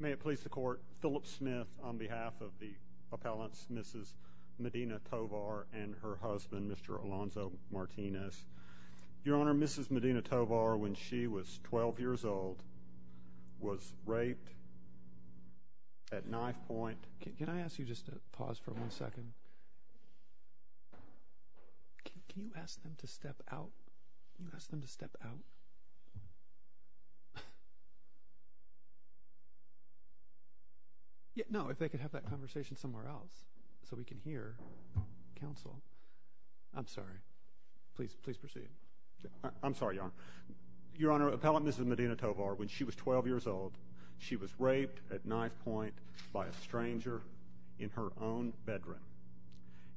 May it please the Court, Philip Smith on behalf of the appellants Mrs. Medina Tovar and her husband Mr. Alonzo Martinez. Your Honor, Mrs. Medina Tovar, when she was 12 years old, was raped at knifepoint. Can I ask you just to pause for one second? Can you ask them to step out? Can you ask them to step out? No, if they could have that conversation somewhere else so we can hear counsel. I'm sorry. Please proceed. I'm sorry, Your Honor. Your Honor, Appellant Mrs. Medina Tovar, when she was 12 years old, she was raped at knifepoint by a stranger in her own bedroom.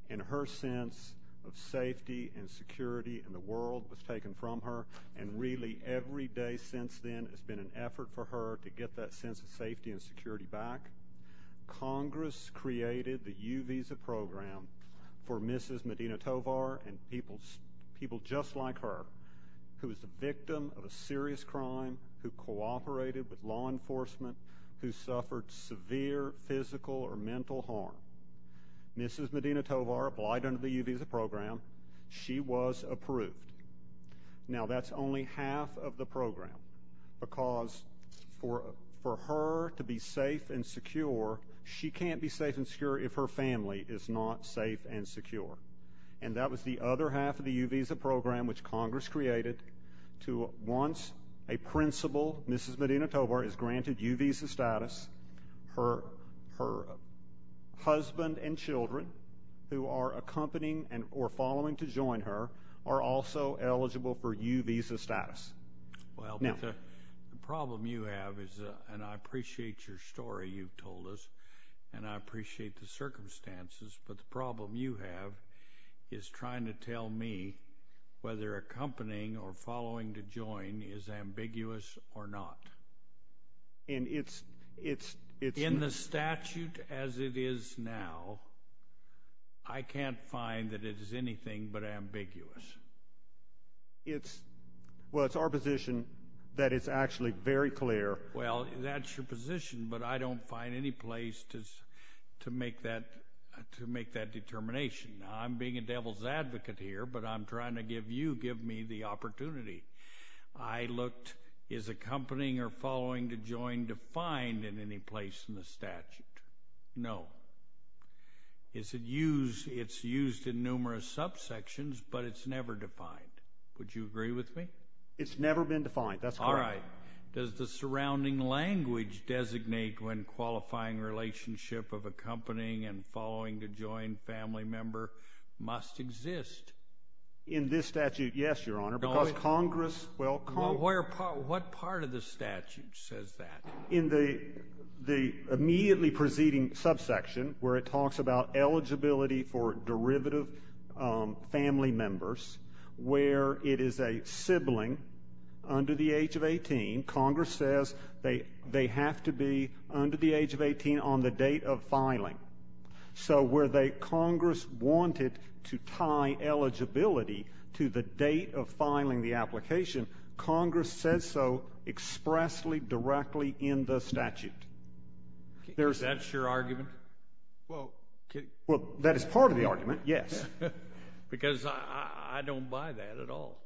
And her sense of safety and security in the world was taken from her. And really, every day since then has been an effort for her to get that sense of safety and security back. Congress created the U-Visa program for Mrs. Medina Tovar and people just like her, who was a victim of a serious crime, who cooperated with law enforcement, who suffered severe physical or mental harm. Mrs. Medina Tovar applied under the U-Visa program. She was approved. Now, that's only half of the program, because for her to be safe and secure, she can't be safe and secure if her family is not safe and secure. And that was the other half of the U-Visa program, which Congress created. Once a principal, Mrs. Medina Tovar, is granted U-Visa status, her husband and children, who are accompanying or following to join her, are also eligible for U-Visa status. Well, the problem you have is, and I appreciate your story you've told us, and I appreciate the circumstances, but the problem you have is trying to tell me whether accompanying or following to join is ambiguous or not. In the statute as it is now, I can't find that it is anything but ambiguous. Well, it's our position that it's actually very clear. Well, that's your position, but I don't find any place to make that determination. I'm being a devil's advocate here, but I'm trying to give you, give me the opportunity. I looked, is accompanying or following to join defined in any place in the statute? No. It's used in numerous subsections, but it's never defined. Would you agree with me? It's never been defined. That's correct. All right. Does the surrounding language designate when qualifying relationship of accompanying and following to join family member must exist? In this statute, yes, Your Honor. Because Congress, well, Congress. What part of the statute says that? In the immediately preceding subsection, where it talks about eligibility for derivative family members, where it is a sibling under the age of 18, Congress says they have to be under the age of 18 on the date of filing. So where Congress wanted to tie eligibility to the date of filing the application, Congress says so expressly, directly in the statute. Is that your argument? Well, that is part of the argument, yes. Because I don't buy that at all.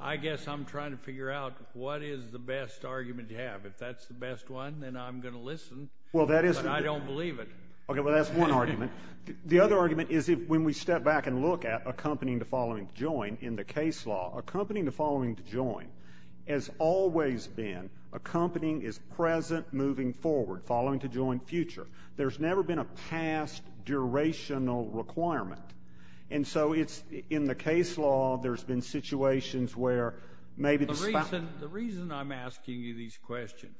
I guess I'm trying to figure out what is the best argument to have. If that's the best one, then I'm going to listen, but I don't believe it. Okay. Well, that's one argument. The other argument is when we step back and look at accompanying to following to join in the case law, accompanying to following to join has always been accompanying is present, moving forward, following to join future. There's never been a past durational requirement. And so it's in the case law, there's been situations where maybe the spouse. The reason I'm asking you these questions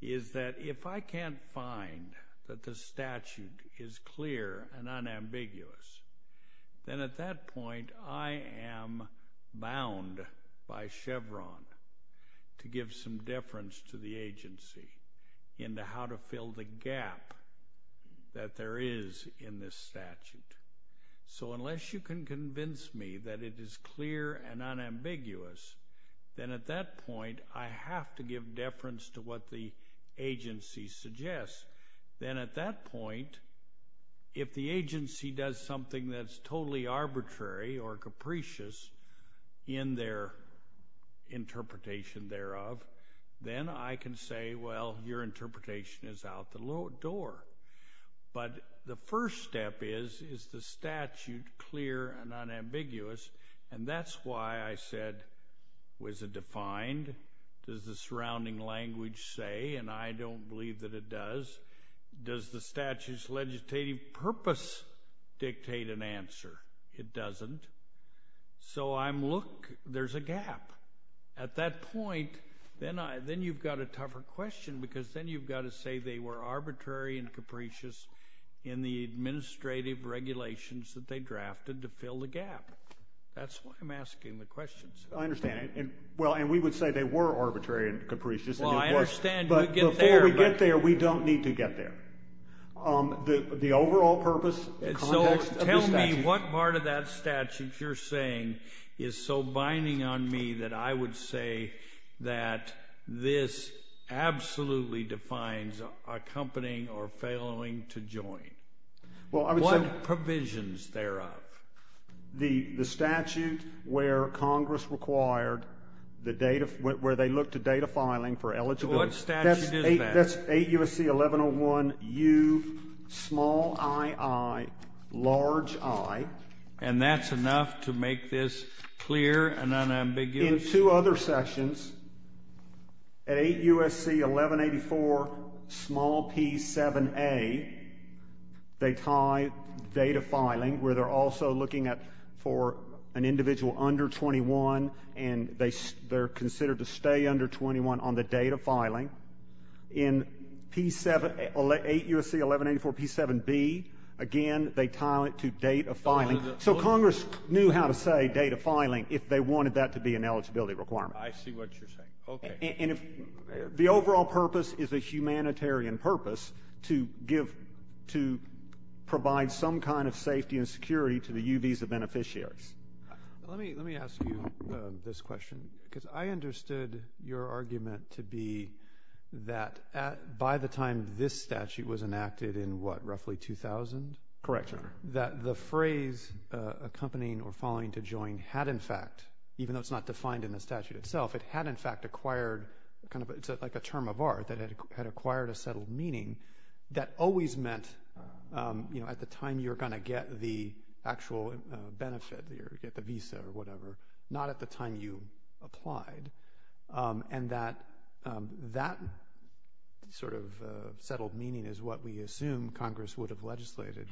is that if I can't find that the statute is clear and unambiguous, then at that point I am bound by Chevron to give some deference to the agency into how to fill the gap that there is in this statute. So unless you can convince me that it is clear and unambiguous, then at that point I have to give deference to what the agency suggests. Then at that point, if the agency does something that's totally arbitrary or capricious in their interpretation thereof, then I can say, well, your interpretation is out the door. But the first step is, is the statute clear and unambiguous? And that's why I said, was it defined? Does the surrounding language say, and I don't believe that it does, does the statute's legislative purpose dictate an answer? It doesn't. So I'm look, there's a gap. At that point, then you've got a tougher question because then you've got to say they were arbitrary and capricious in the administrative regulations that they drafted to fill the gap. That's why I'm asking the questions. I understand. Well, and we would say they were arbitrary and capricious. Well, I understand. But before we get there, we don't need to get there. The overall purpose, the context of the statute. you're saying is so binding on me that I would say that this absolutely defines accompanying or failing to join. Well, I would say. What provisions thereof? The statute where Congress required the data, where they looked at data filing for eligibility. So what statute is that? That's 8 U.S.C. 1101U, small i, i, large i. And that's enough to make this clear and unambiguous? In two other sections, at 8 U.S.C. 1184, small p, 7a, they tie data filing where they're also looking at for an individual under 21 and they're considered to stay under 21 on the date of filing. In P7, 8 U.S.C. 1184, P7b, again, they tie it to date of filing. So Congress knew how to say date of filing if they wanted that to be an eligibility requirement. I see what you're saying. Okay. And the overall purpose is a humanitarian purpose to give, to provide some kind of safety and security to the U visa beneficiaries. Let me ask you this question because I understood your argument to be that by the time this statute was enacted in what, roughly 2000? Correct, Your Honor. That the phrase accompanying or following to join had in fact, even though it's not defined in the statute itself, it had in fact acquired kind of, it's like a term of art that had acquired a settled meaning that always meant, you know, at the time you're going to get the actual benefit or get the visa or whatever, not at the time you applied. And that sort of settled meaning is what we assume Congress would have legislated,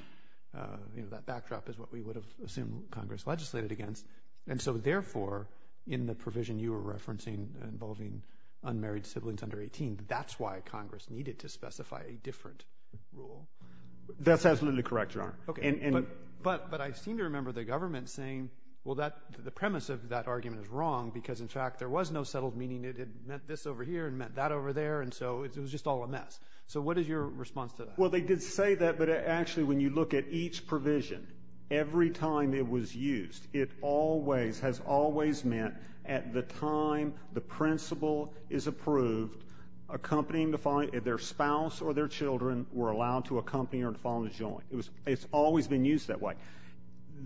you know, that backdrop is what we would have assumed Congress legislated against. And so therefore, in the provision you were referencing involving unmarried siblings under 18, that's why Congress needed to specify a different rule. That's absolutely correct, Your Honor. Okay. But I seem to remember the government saying, well, the premise of that argument is wrong because, in fact, there was no settled meaning. It meant this over here. It meant that over there. And so it was just all a mess. So what is your response to that? Well, they did say that, but actually when you look at each provision, every time it was used, it always has always meant at the time the principle is approved, their spouse or their children were allowed to accompany or to follow the joint. It's always been used that way.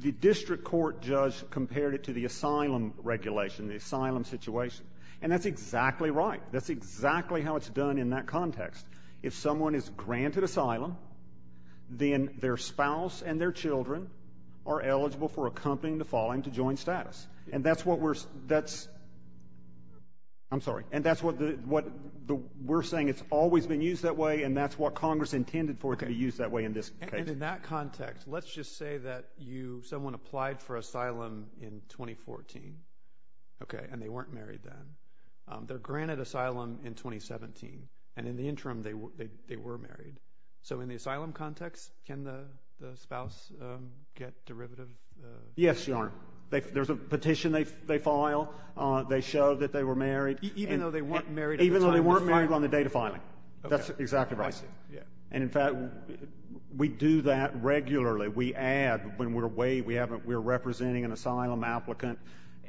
The district court judge compared it to the asylum regulation, the asylum situation. And that's exactly right. That's exactly how it's done in that context. If someone is granted asylum, then their spouse and their children are eligible for accompanying the following to joint status. And that's what we're – that's – I'm sorry. And that's what we're saying. It's always been used that way, and that's what Congress intended for it to be used that way in this case. And in that context, let's just say that you – someone applied for asylum in 2014, okay, and they weren't married then. They're granted asylum in 2017, and in the interim they were married. So in the asylum context, can the spouse get derivative? Yes, Your Honor. There's a petition they file. They show that they were married. Even though they weren't married at the time of filing? Even though they weren't married on the date of filing. That's exactly right. I see, yeah. And, in fact, we do that regularly. We add when we're – we're representing an asylum applicant,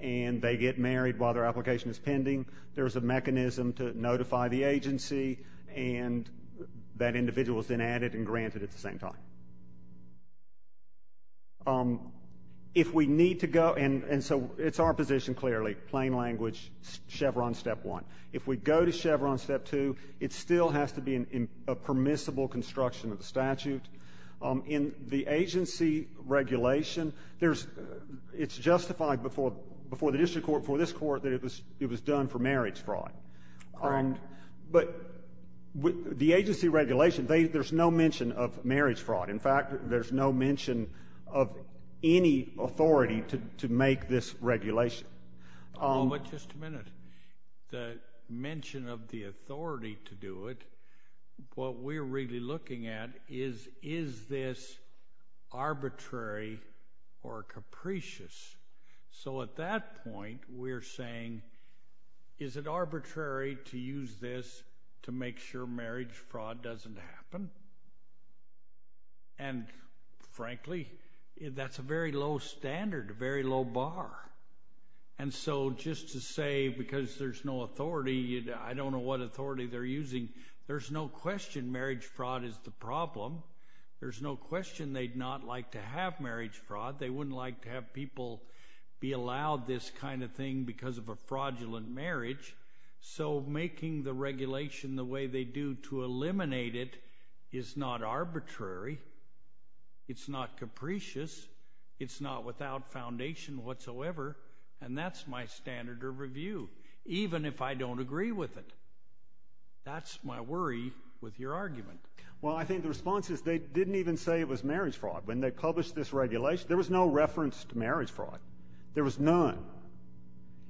and they get married while their application is pending. There's a mechanism to notify the agency, and that individual is then added and granted at the same time. If we need to go – and so it's our position, clearly, plain language, Chevron Step 1. If we go to Chevron Step 2, it still has to be a permissible construction of the statute. In the agency regulation, there's – it's justified before the district court, before this court, that it was done for marriage fraud. Correct. But the agency regulation, there's no mention of marriage fraud. In fact, there's no mention of any authority to make this regulation. Hold on just a minute. The mention of the authority to do it, what we're really looking at is, is this arbitrary or capricious? So at that point, we're saying, is it arbitrary to use this to make sure marriage fraud doesn't happen? And, frankly, that's a very low standard, a very low bar. And so just to say, because there's no authority, I don't know what authority they're using, there's no question marriage fraud is the problem. There's no question they'd not like to have marriage fraud. They wouldn't like to have people be allowed this kind of thing because of a fraudulent marriage. So making the regulation the way they do to eliminate it is not arbitrary. It's not capricious. It's not without foundation whatsoever. And that's my standard of review, even if I don't agree with it. That's my worry with your argument. Well, I think the response is they didn't even say it was marriage fraud. When they published this regulation, there was no reference to marriage fraud. There was none.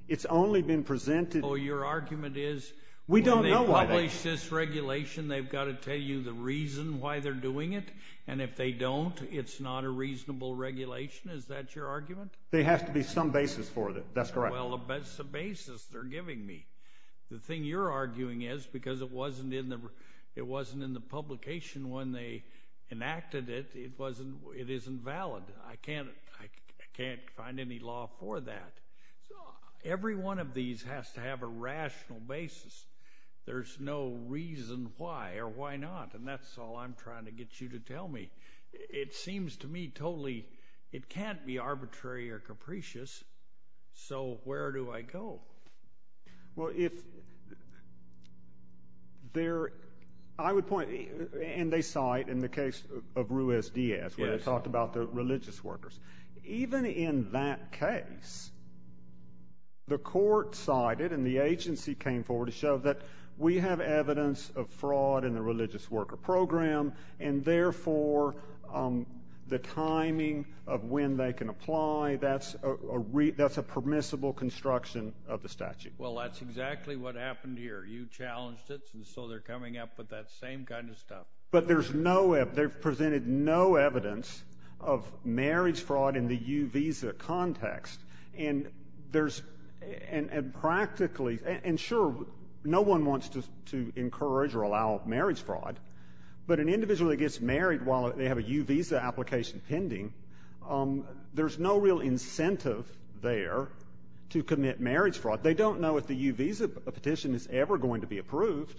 It's only been presented. Oh, your argument is when they publish this regulation, they've got to tell you the reason why they're doing it? And if they don't, it's not a reasonable regulation? Is that your argument? There has to be some basis for it. That's correct. Well, that's the basis they're giving me. The thing you're arguing is because it wasn't in the publication when they enacted it, it isn't valid. I can't find any law for that. So every one of these has to have a rational basis. There's no reason why or why not. And that's all I'm trying to get you to tell me. It seems to me totally it can't be arbitrary or capricious. So where do I go? Well, if there are, I would point, and they cite in the case of Ruiz Diaz where they talked about the religious workers. Even in that case, the court cited and the agency came forward to show that we have evidence of fraud in the religious worker program, and therefore the timing of when they can apply, that's a permissible construction of the statute. Well, that's exactly what happened here. You challenged it, and so they're coming up with that same kind of stuff. But there's no evidence. They've presented no evidence of marriage fraud in the U visa context. And there's practically, and sure, no one wants to encourage or allow marriage fraud, but an individual that gets married while they have a U visa application pending, there's no real incentive there to commit marriage fraud. They don't know if the U visa petition is ever going to be approved.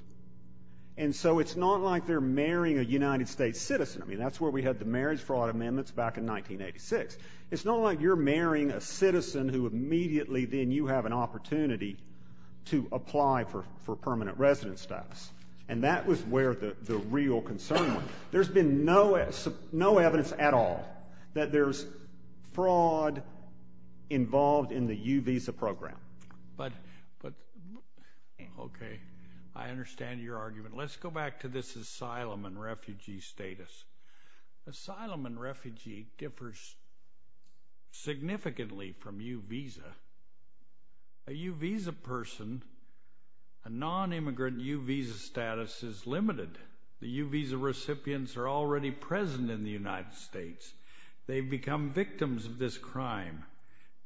And so it's not like they're marrying a United States citizen. I mean, that's where we had the marriage fraud amendments back in 1986. It's not like you're marrying a citizen who immediately then you have an opportunity to apply for permanent resident status. And that was where the real concern was. There's been no evidence at all that there's fraud involved in the U visa program. But, okay, I understand your argument. Let's go back to this asylum and refugee status. Asylum and refugee differs significantly from U visa. A U visa person, a non-immigrant U visa status is limited. The U visa recipients are already present in the United States. They've become victims of this crime.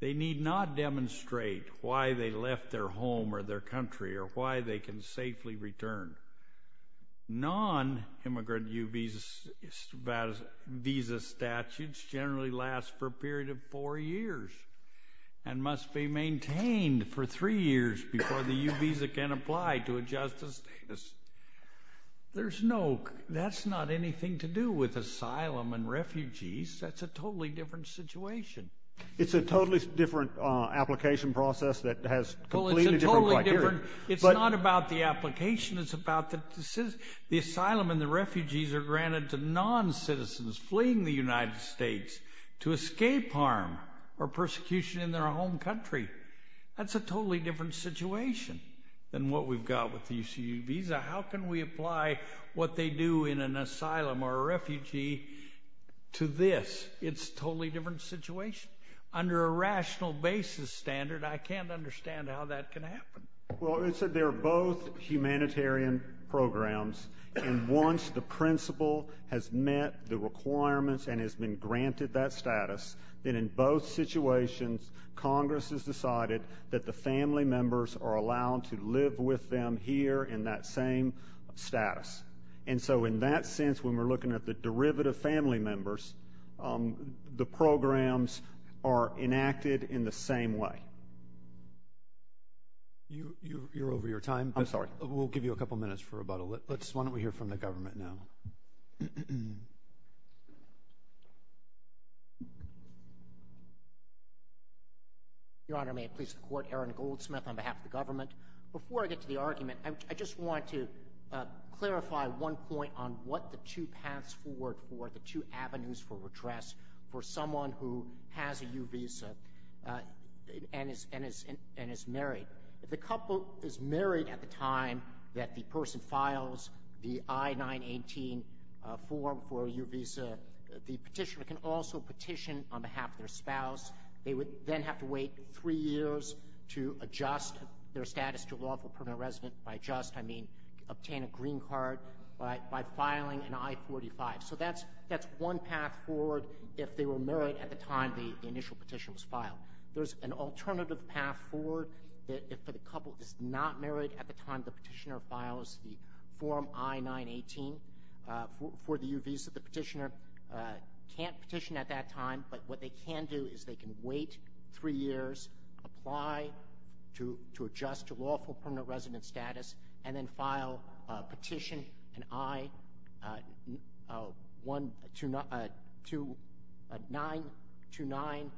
They need not demonstrate why they left their home or their country or why they can safely return. Non-immigrant U visa statutes generally last for a period of four years and must be maintained for three years before the U visa can apply to adjust the status. That's not anything to do with asylum and refugees. That's a totally different situation. It's a totally different application process that has completely different criteria. It's not about the application. It's about the asylum and the refugees are granted to non-citizens fleeing the United States to escape harm or persecution in their home country. That's a totally different situation than what we've got with the U visa. How can we apply what they do in an asylum or a refugee to this? It's a totally different situation. Under a rational basis standard, I can't understand how that can happen. Well, it's that they're both humanitarian programs, and once the principal has met the requirements and has been granted that status, then in both situations Congress has decided that the family members are allowed to live with them here in that same status. And so in that sense, when we're looking at the derivative family members, the programs are enacted in the same way. You're over your time. I'm sorry. We'll give you a couple minutes for rebuttal. Why don't we hear from the government now? Your Honor, may it please the Court, Aaron Goldsmith on behalf of the government. Before I get to the argument, I just want to clarify one point on what the two paths forward for, the two avenues for redress for someone who has a U visa and is married. If the couple is married at the time that the person files the I-918 form for a U visa, the petitioner can also petition on behalf of their spouse. They would then have to wait three years to adjust their status to a lawful permanent resident. By adjust I mean obtain a green card by filing an I-45. So that's one path forward if they were married at the time the initial petition was filed. There's an alternative path forward if the couple is not married at the time the petitioner files the form I-918 for the U visa. The petitioner can't petition at that time, but what they can do is they can wait three years, apply to adjust to lawful permanent resident status, and then file a petition, an I-929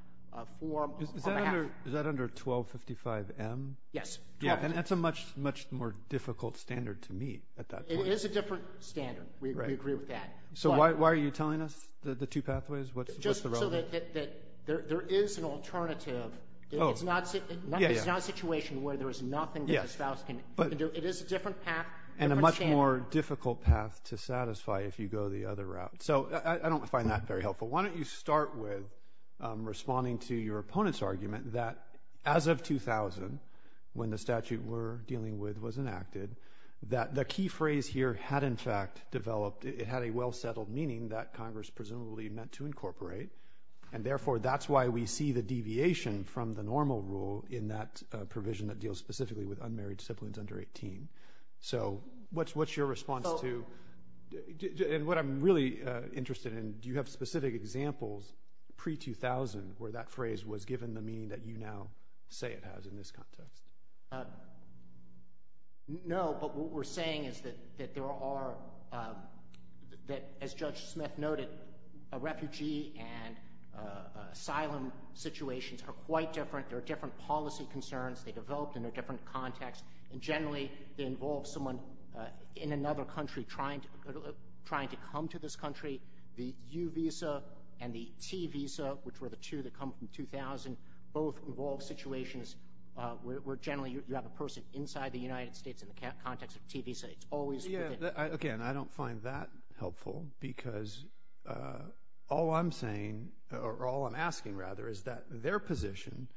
form. Is that under 1255M? Yes. And that's a much more difficult standard to meet at that point. It is a different standard. We agree with that. So why are you telling us the two pathways? Just so that there is an alternative. It's not a situation where there is nothing that the spouse can do. It is a different path. And a much more difficult path to satisfy if you go the other route. So I don't find that very helpful. Why don't you start with responding to your opponent's argument that as of 2000, when the statute we're dealing with was enacted, that the key phrase here had, in fact, developed. It had a well-settled meaning that Congress presumably meant to incorporate. And, therefore, that's why we see the deviation from the normal rule in that provision that deals specifically with unmarried siblings under 18. So what's your response to? And what I'm really interested in, do you have specific examples pre-2000 where that phrase was given the meaning that you now say it has in this context? No, but what we're saying is that there are, as Judge Smith noted, refugee and asylum situations are quite different. There are different policy concerns. They developed in a different context. And, generally, they involve someone in another country trying to come to this country. The U visa and the T visa, which were the two that come from 2000, both involve situations where generally you have a person inside the United States in the context of T visa. It's always within. Again, I don't find that helpful because all I'm saying, or all I'm asking, rather, is that their position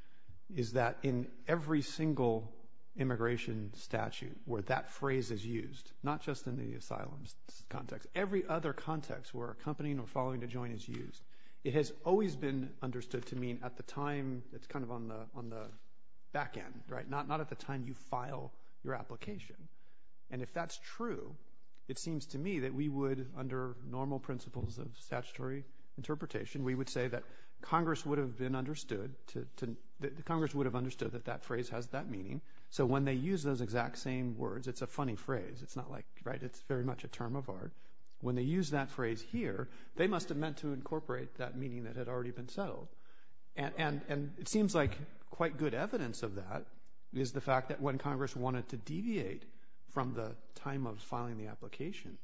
is that in every single immigration statute where that phrase is used, not just in the asylum context, every other context where accompanying or following to join is used, it has always been understood to mean at the time it's kind of on the back end, right? Not at the time you file your application. And if that's true, it seems to me that we would, under normal principles of statutory interpretation, we would say that Congress would have understood that that phrase has that meaning. So when they use those exact same words, it's a funny phrase. It's not like, right, it's very much a term of art. When they use that phrase here, they must have meant to incorporate that meaning that had already been settled. And it seems like quite good evidence of that is the fact that when Congress wanted to deviate from the time of filing the application,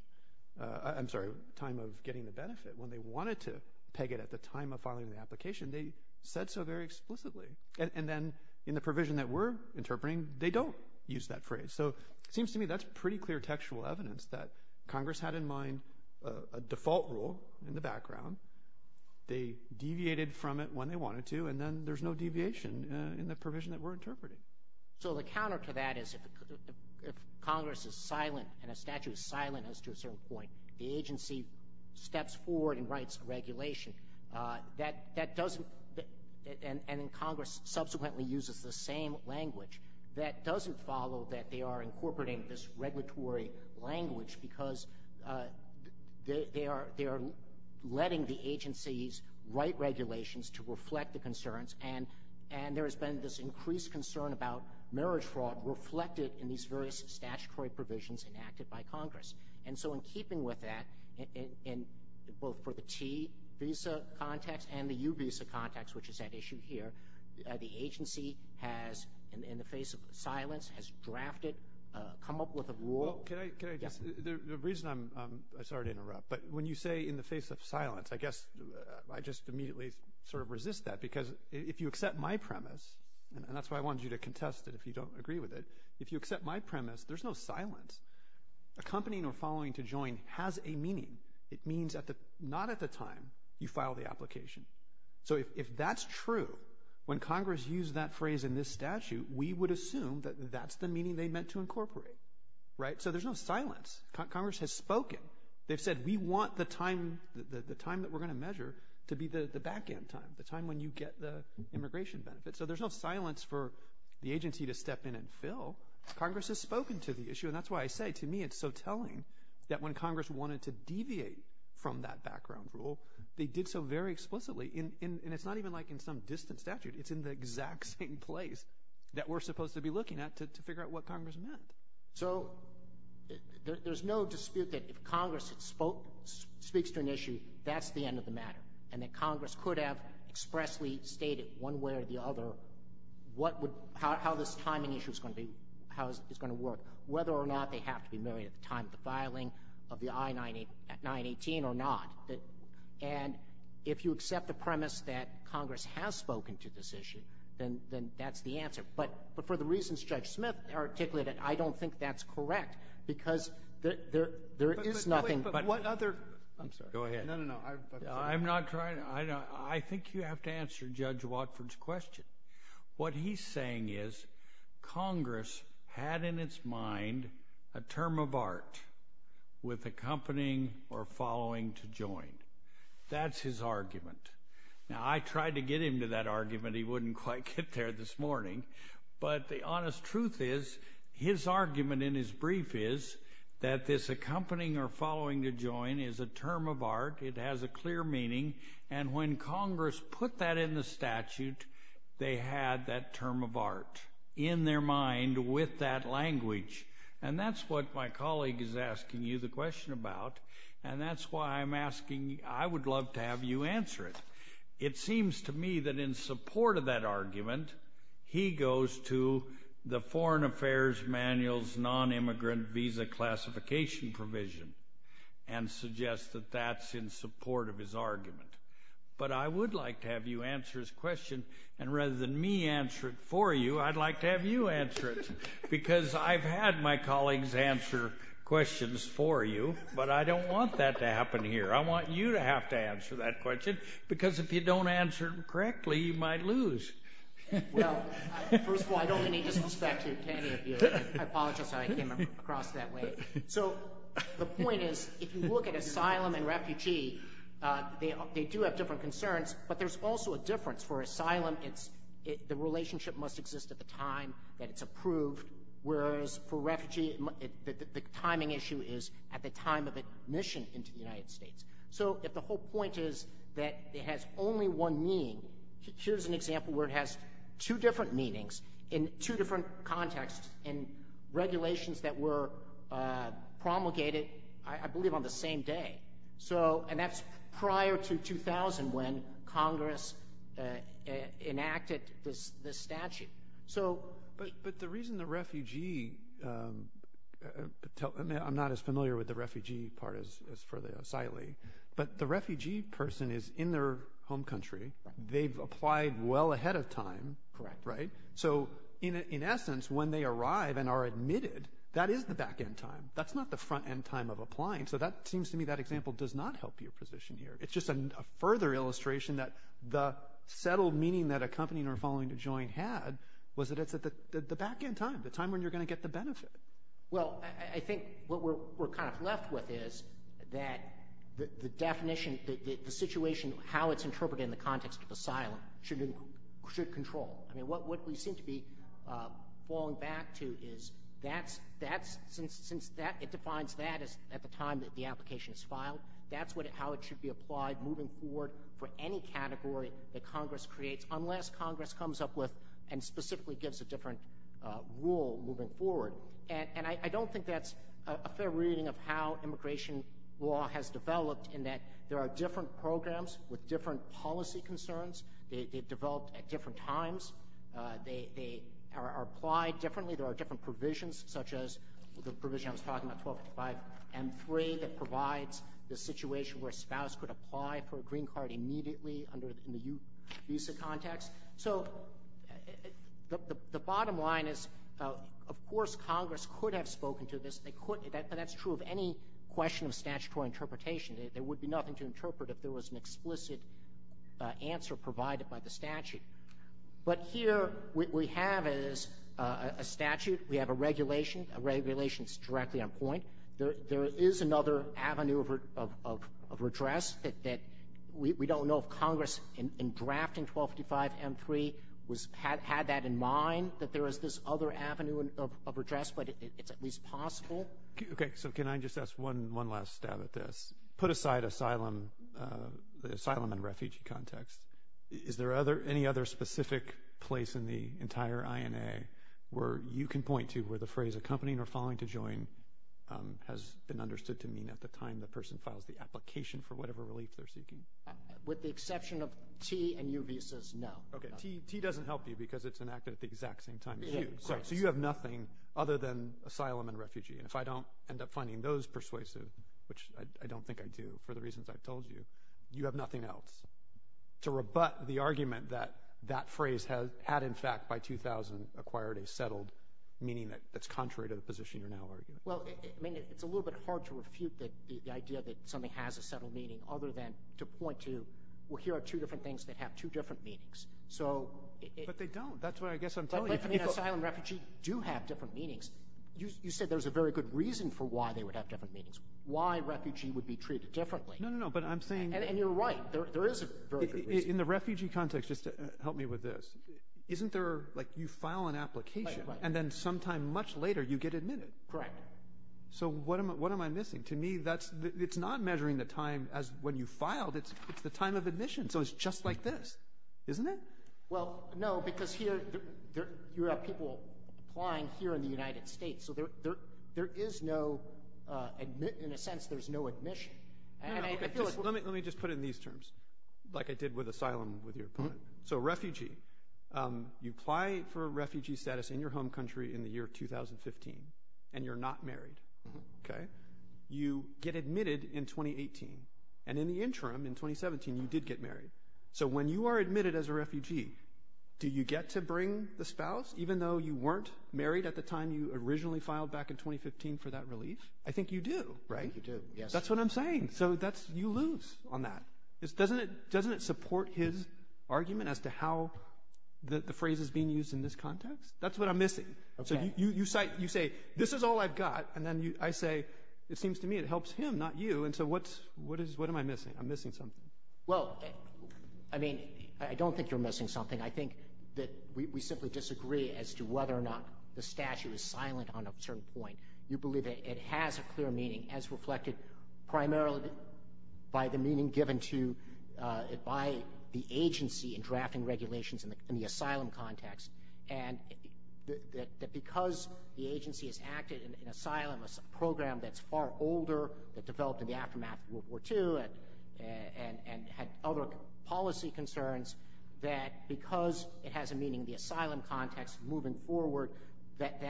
I'm sorry, time of getting the benefit, when they wanted to peg it at the time of filing the application, they said so very explicitly. And then in the provision that we're interpreting, they don't use that phrase. So it seems to me that's pretty clear textual evidence that Congress had in mind a default rule in the background. They deviated from it when they wanted to, and then there's no deviation in the provision that we're interpreting. So the counter to that is if Congress is silent and a statute is silent as to a certain point, the agency steps forward and writes a regulation. That doesn't, and Congress subsequently uses the same language, that doesn't follow that they are incorporating this regulatory language because they are letting the agencies write regulations to reflect the concerns. And there has been this increased concern about marriage fraud reflected in these various statutory provisions enacted by Congress. And so in keeping with that, both for the T visa context and the U visa context, which is at issue here, the agency has, in the face of silence, has drafted, come up with a rule. Can I just, the reason I'm, sorry to interrupt, but when you say in the face of silence, I guess I just immediately sort of resist that because if you accept my premise, and that's why I wanted you to contest it if you don't agree with it, if you accept my premise, there's no silence. Accompanying or following to join has a meaning. It means not at the time you file the application. So if that's true, when Congress used that phrase in this statute, we would assume that that's the meaning they meant to incorporate, right? So there's no silence. Congress has spoken. They've said we want the time that we're going to measure to be the back end time, the time when you get the immigration benefits. So there's no silence for the agency to step in and fill. Congress has spoken to the issue. And that's why I say to me it's so telling that when Congress wanted to deviate from that background rule, they did so very explicitly. And it's not even like in some distant statute. It's in the exact same place that we're supposed to be looking at to figure out what Congress meant. So there's no dispute that if Congress speaks to an issue, that's the end of the matter, and that Congress could have expressly stated one way or the other how this timing issue is going to be, how it's going to work, whether or not they have to be married at the time of the filing of the I-918 or not. And if you accept the premise that Congress has spoken to this issue, then that's the answer. But for the reasons Judge Smith articulated, I don't think that's correct because there is nothing. But what other... I'm sorry. Go ahead. No, no, no. I'm sorry. I'm not trying to... I think you have to answer Judge Watford's question. What he's saying is Congress had in its mind a term of art with accompanying or following to join. That's his argument. Now, I tried to get him to that argument. He wouldn't quite get there this morning. But the honest truth is his argument in his brief is that this accompanying or following to join is a term of art. It has a clear meaning. And when Congress put that in the statute, they had that term of art in their mind with that language. And that's what my colleague is asking you the question about. And that's why I'm asking... I would love to have you answer it. It seems to me that in support of that argument, he goes to the Foreign Affairs Manual's Non-Immigrant Visa Classification Provision and suggests that that's in support of his argument. But I would like to have you answer his question. And rather than me answer it for you, I'd like to have you answer it because I've had my colleagues answer questions for you. But I don't want that to happen here. I want you to have to answer that question because if you don't answer it correctly, you might lose. Well, first of all, I don't mean to disrespect any of you. I apologize. I came across that way. So the point is if you look at asylum and refugee, they do have different concerns. But there's also a difference. For asylum, the relationship must exist at the time that it's approved, whereas for refugee, the timing issue is at the time of admission into the United States. So if the whole point is that it has only one meaning, here's an example where it has two different meanings in two different contexts and regulations that were promulgated, I believe, on the same day. And that's prior to 2000 when Congress enacted this statute. But the reason the refugee, I'm not as familiar with the refugee part as for the asylee, but the refugee person is in their home country. They've applied well ahead of time. Correct. Right? So in essence, when they arrive and are admitted, that is the back end time. That's not the front end time of applying. So that seems to me that example does not help your position here. It's just a further illustration that the settled meaning that accompanying or following to join had was that it's at the back end time, the time when you're going to get the benefit. Well, I think what we're kind of left with is that the definition, the situation, how it's interpreted in the context of asylum should control. I mean, what we seem to be falling back to is that's, since it defines that as at the time that the application is filed, that's how it should be applied moving forward for any category that Congress creates, unless Congress comes up with and specifically gives a different rule moving forward. And I don't think that's a fair reading of how immigration law has developed in that there are different programs with different policy concerns. They've developed at different times. They are applied differently. There are different provisions, such as the provision I was talking about, 12.5M3, that provides the situation where a spouse could apply for a green card immediately in the visa context. So the bottom line is, of course, Congress could have spoken to this. That's true of any question of statutory interpretation. There would be nothing to interpret if there was an explicit answer provided by the statute. But here what we have is a statute. We have a regulation. A regulation is directly on point. There is another avenue of redress that we don't know if Congress, in drafting 12.5M3, had that in mind, that there is this other avenue of redress, but it's at least possible. Okay, so can I just ask one last stab at this? Put aside asylum and refugee context, is there any other specific place in the entire INA where you can point to where the phrase accompanying or following to join has been understood to mean at the time the person files the application for whatever relief they're seeking? With the exception of T and U visas, no. Okay, T doesn't help you because it's enacted at the exact same time as U. So you have nothing other than asylum and refugee. And if I don't end up finding those persuasive, which I don't think I do for the reasons I've told you, you have nothing else to rebut the argument that that phrase had, in fact, by 2000, acquired a settled meaning that's contrary to the position you're now arguing. Well, I mean, it's a little bit hard to refute the idea that something has a settled meaning other than to point to, well, here are two different things that have two different meanings. But they don't. That's what I guess I'm telling you. But I mean, asylum and refugee do have different meanings. You said there's a very good reason for why they would have different meanings, why refugee would be treated differently. No, no, no, but I'm saying— And you're right. There is a very good reason. In the refugee context, just help me with this, isn't there, like, you file an application and then sometime much later you get admitted? Correct. So what am I missing? To me, it's not measuring the time as when you filed. It's the time of admission. So it's just like this, isn't it? Well, no, because here you have people applying here in the United States, so there is no—in a sense, there's no admission. Let me just put it in these terms, like I did with asylum with your point. So refugee, you apply for refugee status in your home country in the year 2015, and you're not married. You get admitted in 2018, and in the interim, in 2017, you did get married. So when you are admitted as a refugee, do you get to bring the spouse, even though you weren't married at the time you originally filed back in 2015 for that relief? I think you do, right? You do, yes. That's what I'm saying. So you lose on that. Doesn't it support his argument as to how the phrase is being used in this context? That's what I'm missing. So you say, this is all I've got, and then I say, it seems to me it helps him, not you, and so what am I missing? I'm missing something. Well, I mean, I don't think you're missing something. I think that we simply disagree as to whether or not the statute is silent on a certain point. You believe it has a clear meaning, as reflected primarily by the meaning given to it by the agency in drafting regulations in the asylum context, and that because the agency has acted in an asylum program that's far older, that developed in the aftermath of World War II and had other policy concerns, that because it has a meaning in the asylum context moving forward, that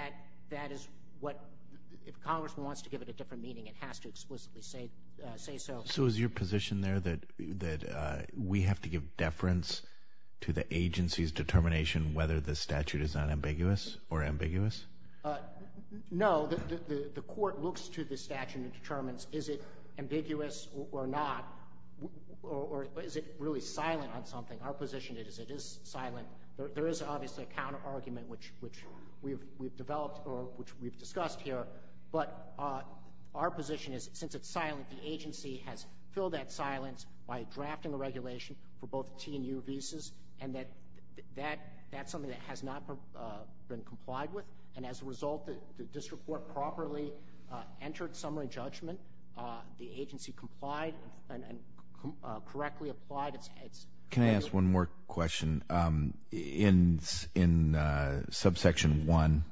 that is what, if a congressman wants to give it a different meaning, it has to explicitly say so. So is your position there that we have to give deference to the agency's determination whether the statute is unambiguous or ambiguous? No. The court looks to the statute and determines is it ambiguous or not, or is it really silent on something. Our position is it is silent. There is obviously a counterargument, which we've developed or which we've discussed here, but our position is since it's silent, the agency has filled that silence by drafting a regulation for both T and U visas, and that that's something that has not been complied with. And as a result, the district court properly entered summary judgment. The agency complied and correctly applied. Can I ask one more question? In subsection 1,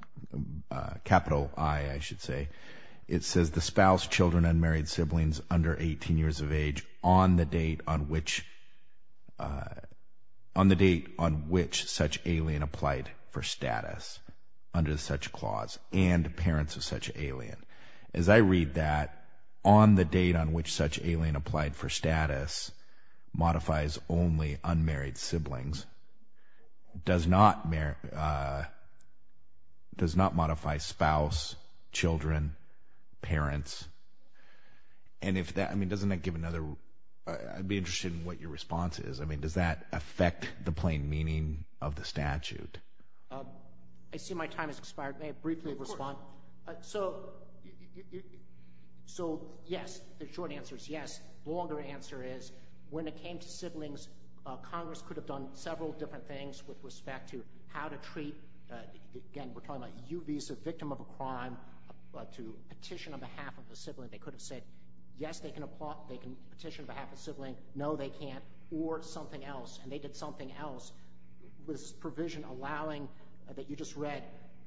capital I, I should say, it says, Does the spouse, children, unmarried siblings under 18 years of age, on the date on which such alien applied for status under such clause and parents of such alien, as I read that, on the date on which such alien applied for status modifies only unmarried siblings, does not modify spouse, children, parents. And if that, I mean, doesn't that give another, I'd be interested in what your response is. I mean, does that affect the plain meaning of the statute? I see my time has expired. May I briefly respond? Of course. So, yes, the short answer is yes. The longer answer is, when it came to siblings, Congress could have done several different things with respect to how to treat, again, we're talking about U visa victim of a crime, to petition on behalf of a sibling. They could have said, yes, they can petition on behalf of a sibling. No, they can't. Or something else, and they did something else with this provision allowing, that you just read,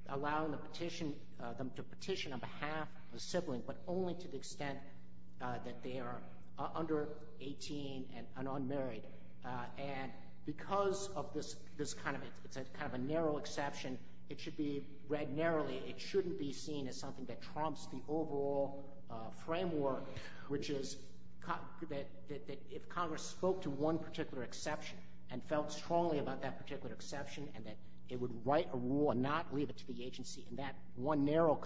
allowing them to petition on behalf of a sibling, but only to the extent that they are under 18 and unmarried. And because of this kind of a narrow exception, it should be read narrowly. It shouldn't be seen as something that trumps the overall framework, which is that if Congress spoke to one particular exception and felt strongly about that particular exception, and that it would write a rule and not leave it to the agency, in that one narrow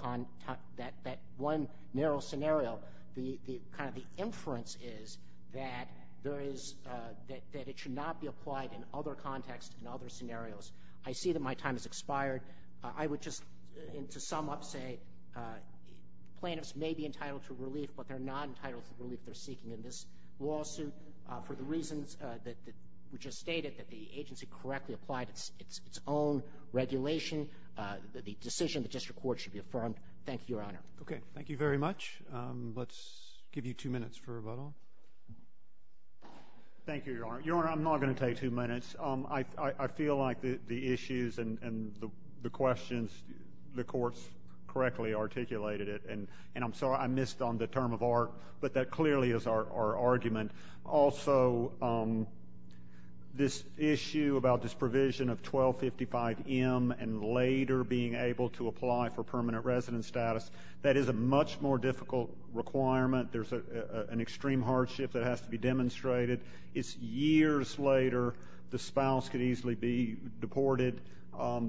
scenario, kind of the inference is that it should not be applied in other contexts and other scenarios. I see that my time has expired. I would just, to sum up, say plaintiffs may be entitled to relief, but they're not entitled to relief they're seeking in this lawsuit for the reasons that were just stated, that the agency correctly applied its own regulation, the decision of the district court should be affirmed. Thank you, Your Honor. Okay. Thank you very much. Let's give you two minutes for rebuttal. Thank you, Your Honor. Your Honor, I'm not going to take two minutes. I feel like the issues and the questions, the courts correctly articulated it, and I'm sorry I missed on the term of art, but that clearly is our argument. Also, this issue about this provision of 1255M and later being able to apply for permanent residence status, that is a much more difficult requirement. There's an extreme hardship that has to be demonstrated. It's years later. The spouse could easily be deported.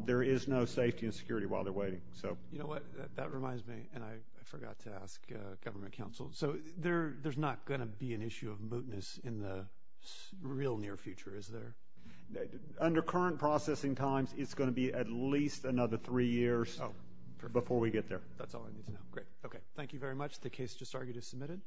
There is no safety and security while they're waiting. You know what? That reminds me, and I forgot to ask government counsel. So there's not going to be an issue of mootness in the real near future, is there? Under current processing times, it's going to be at least another three years before we get there. That's all I need to know. Great. Okay. Thank you very much. The case just argued is submitted.